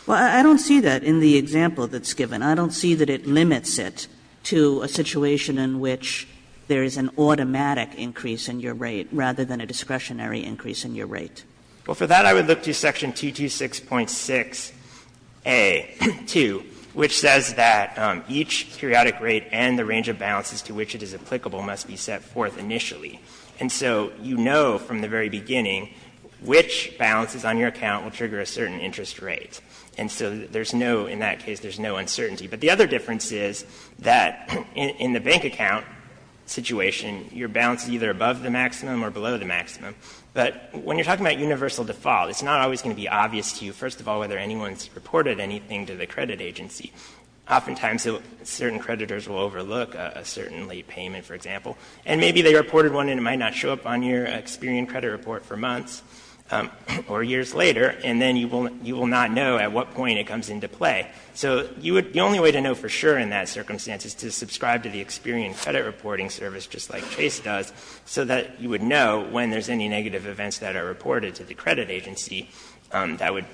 Well, I don't see that in the example that's given. I don't see that it limits it to a situation in which there is an automatic increase in your rate rather than a discretionary increase in your rate. Well, for that I would look to section 226.6a.2, which says that each periodic rate and the range of balances to which it is applicable must be set forth initially. And so you know from the very beginning which balances on your account will trigger a certain interest rate. And so there's no, in that case, there's no uncertainty. But the other difference is that in the bank account situation, your balance is either above the maximum or below the maximum. But when you're talking about universal default, it's not always going to be obvious to you, first of all, whether anyone has reported anything to the credit agency. Oftentimes, certain creditors will overlook a certain late payment, for example, and maybe they reported one and it might not show up on your Experian credit report for months or years later, and then you will not know at what point it comes into play. So the only way to know for sure in that circumstance is to subscribe to the Experian credit reporting service, just like Chase does, so that you would know when there's any negative events that are reported to the credit agency that would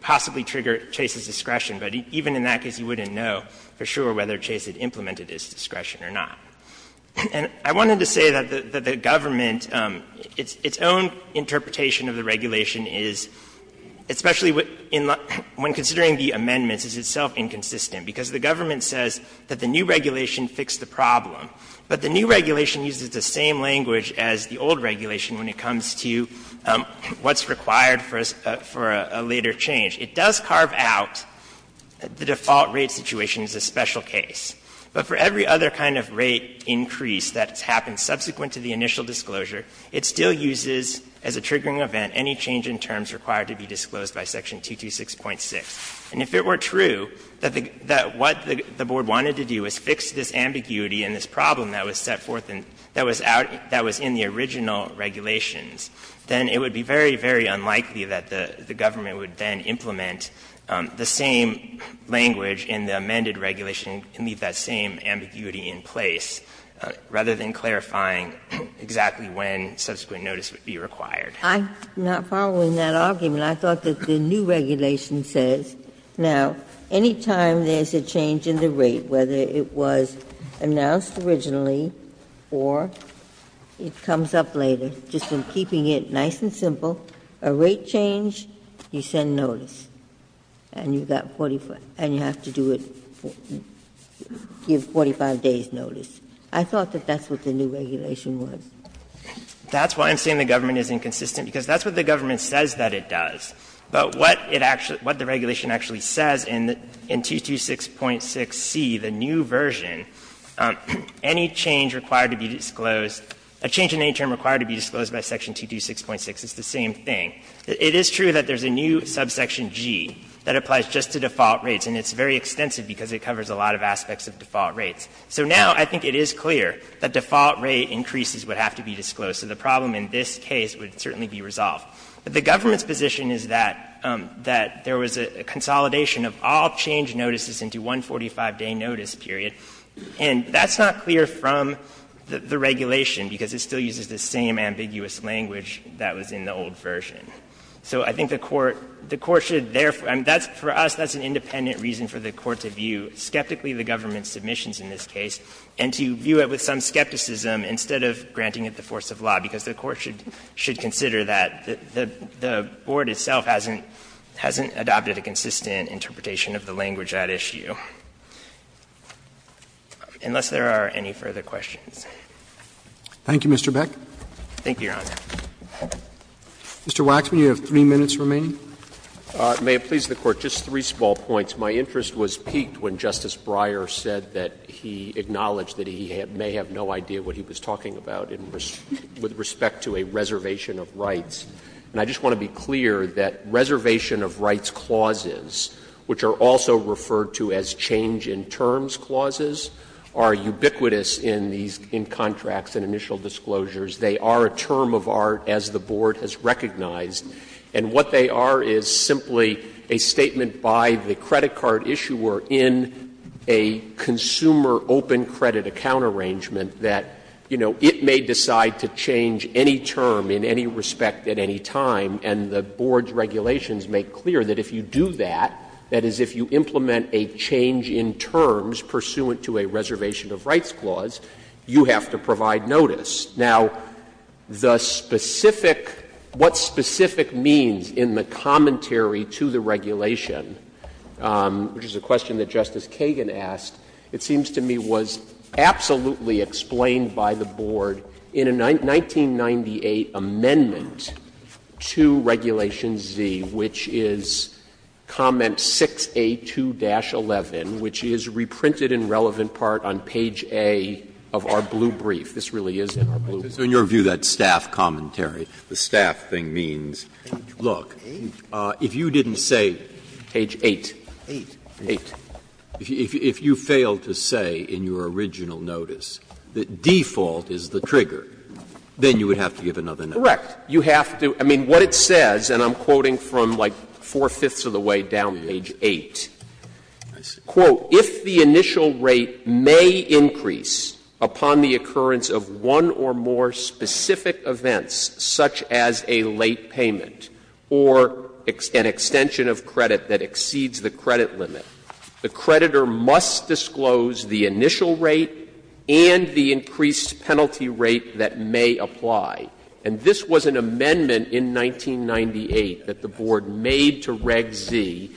possibly trigger Chase's discretion. But even in that case, you wouldn't know for sure whether Chase had implemented his discretion or not. And I wanted to say that the government, its own interpretation of the regulation is, especially when considering the amendments, is itself inconsistent, because the government says that the new regulation fixed the problem. But the new regulation uses the same language as the old regulation when it comes to what's required for a later change. It does carve out the default rate situation as a special case. But for every other kind of rate increase that's happened subsequent to the initial disclosure, it still uses as a triggering event any change in terms required to be disclosed by section 226.6. And if it were true that what the board wanted to do was fix this ambiguity and this problem that was set forth in the original regulations, then it would be very, very unlikely that the government would then implement the same language in the amended regulation and leave that same ambiguity in place, rather than clarifying exactly when subsequent notice would be required. Ginsburg-Miller, I'm not following that argument. I thought that the new regulation says, now, any time there's a change in the rate, whether it was announced originally or it comes up later, just in keeping it nice and simple, a rate change, you send notice. And you have to do it, give 45 days' notice. I thought that that's what the new regulation was. That's why I'm saying the government is inconsistent, because that's what the government says that it does. But what it actually, what the regulation actually says in 226.6c, the new version, any change required to be disclosed, a change in any term required to be disclosed by section 226.6, it's the same thing. It is true that there's a new subsection G that applies just to default rates, and it's very extensive because it covers a lot of aspects of default rates. So now I think it is clear that default rate increases would have to be disclosed. So the problem in this case would certainly be resolved. But the government's position is that there was a consolidation of all change notices into one 45-day notice period, and that's not clear from the regulation, because it still uses the same ambiguous language that was in the old version. So I think the Court, the Court should therefore, and that's, for us, that's an independent reason for the Court to view skeptically the government's submissions in this case and to view it with some skepticism instead of granting it the force of law, because the Court should consider that the Board itself hasn't adopted a consistent interpretation of the language at issue, unless there are any further questions. Roberts Thank you, Mr. Beck. Beck, thank you, Your Honor. Mr. Waxman, you have three minutes remaining. Waxman, may it please the Court, just three small points. My interest was piqued when Justice Breyer said that he acknowledged that he may have no idea what he was talking about with respect to a reservation of rights. And I just want to be clear that reservation of rights clauses, which are also referred to as change-in-terms clauses, are ubiquitous in these contracts and initial disclosures. They are a term of art, as the Board has recognized. And what they are is simply a statement by the credit card issuer in a consumer open credit account arrangement that, you know, it may decide to change any term in any respect at any time, and the Board's regulations make clear that if you do that, that is, if you implement a change-in-terms pursuant to a reservation of rights clause, you have to provide notice. Now, the specific — what specific means in the commentary to the regulation, which is a question that Justice Kagan asked, it seems to me was absolutely explained by the Board in a 1998 amendment to Regulation Z, which is comment 6A2-11, which is reprinted in relevant part on page A of our blue brief. This really is in our blue brief. Breyer, in your view, that staff commentary, the staff thing means, look, if you didn't say page 8, 8, if you failed to say in your original notice that default is the trigger, then you would have to give another notice. Correct. You have to — I mean, what it says, and I'm quoting from like four-fifths of the way down to page 8, quote, "...if the initial rate may increase upon the occurrence of one or more specific events, such as a late payment or an extension of credit that exceeds the credit limit, the creditor must disclose the initial rate and the increased penalty rate that may apply." And this was an amendment in 1998 that the Board made to Reg Z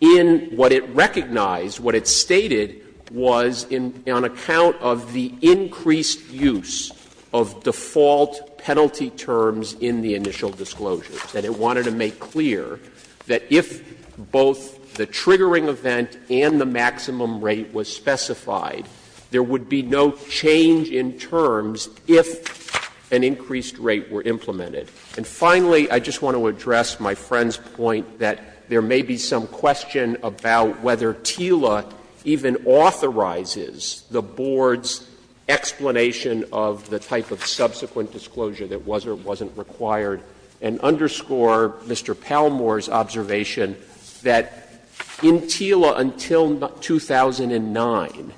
in what it recognized, what it stated was on account of the increased use of default penalty terms in the initial disclosures, that it wanted to make clear that if both the triggering event and the maximum rate was specified, there would be no change in terms if an increased rate were implemented. And finally, I just want to address my friend's point that there may be some question about whether TILA even authorizes the Board's explanation of the type of subsequent disclosure that was or wasn't required, and underscore Mr. Palmore's observation that in TILA until 2009,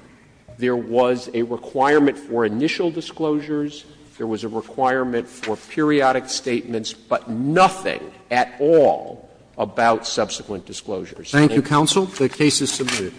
there was a requirement for initial disclosures, there was a requirement for periodic statements, but nothing at all about subsequent disclosures. Roberts. Thank you, counsel. The case is submitted.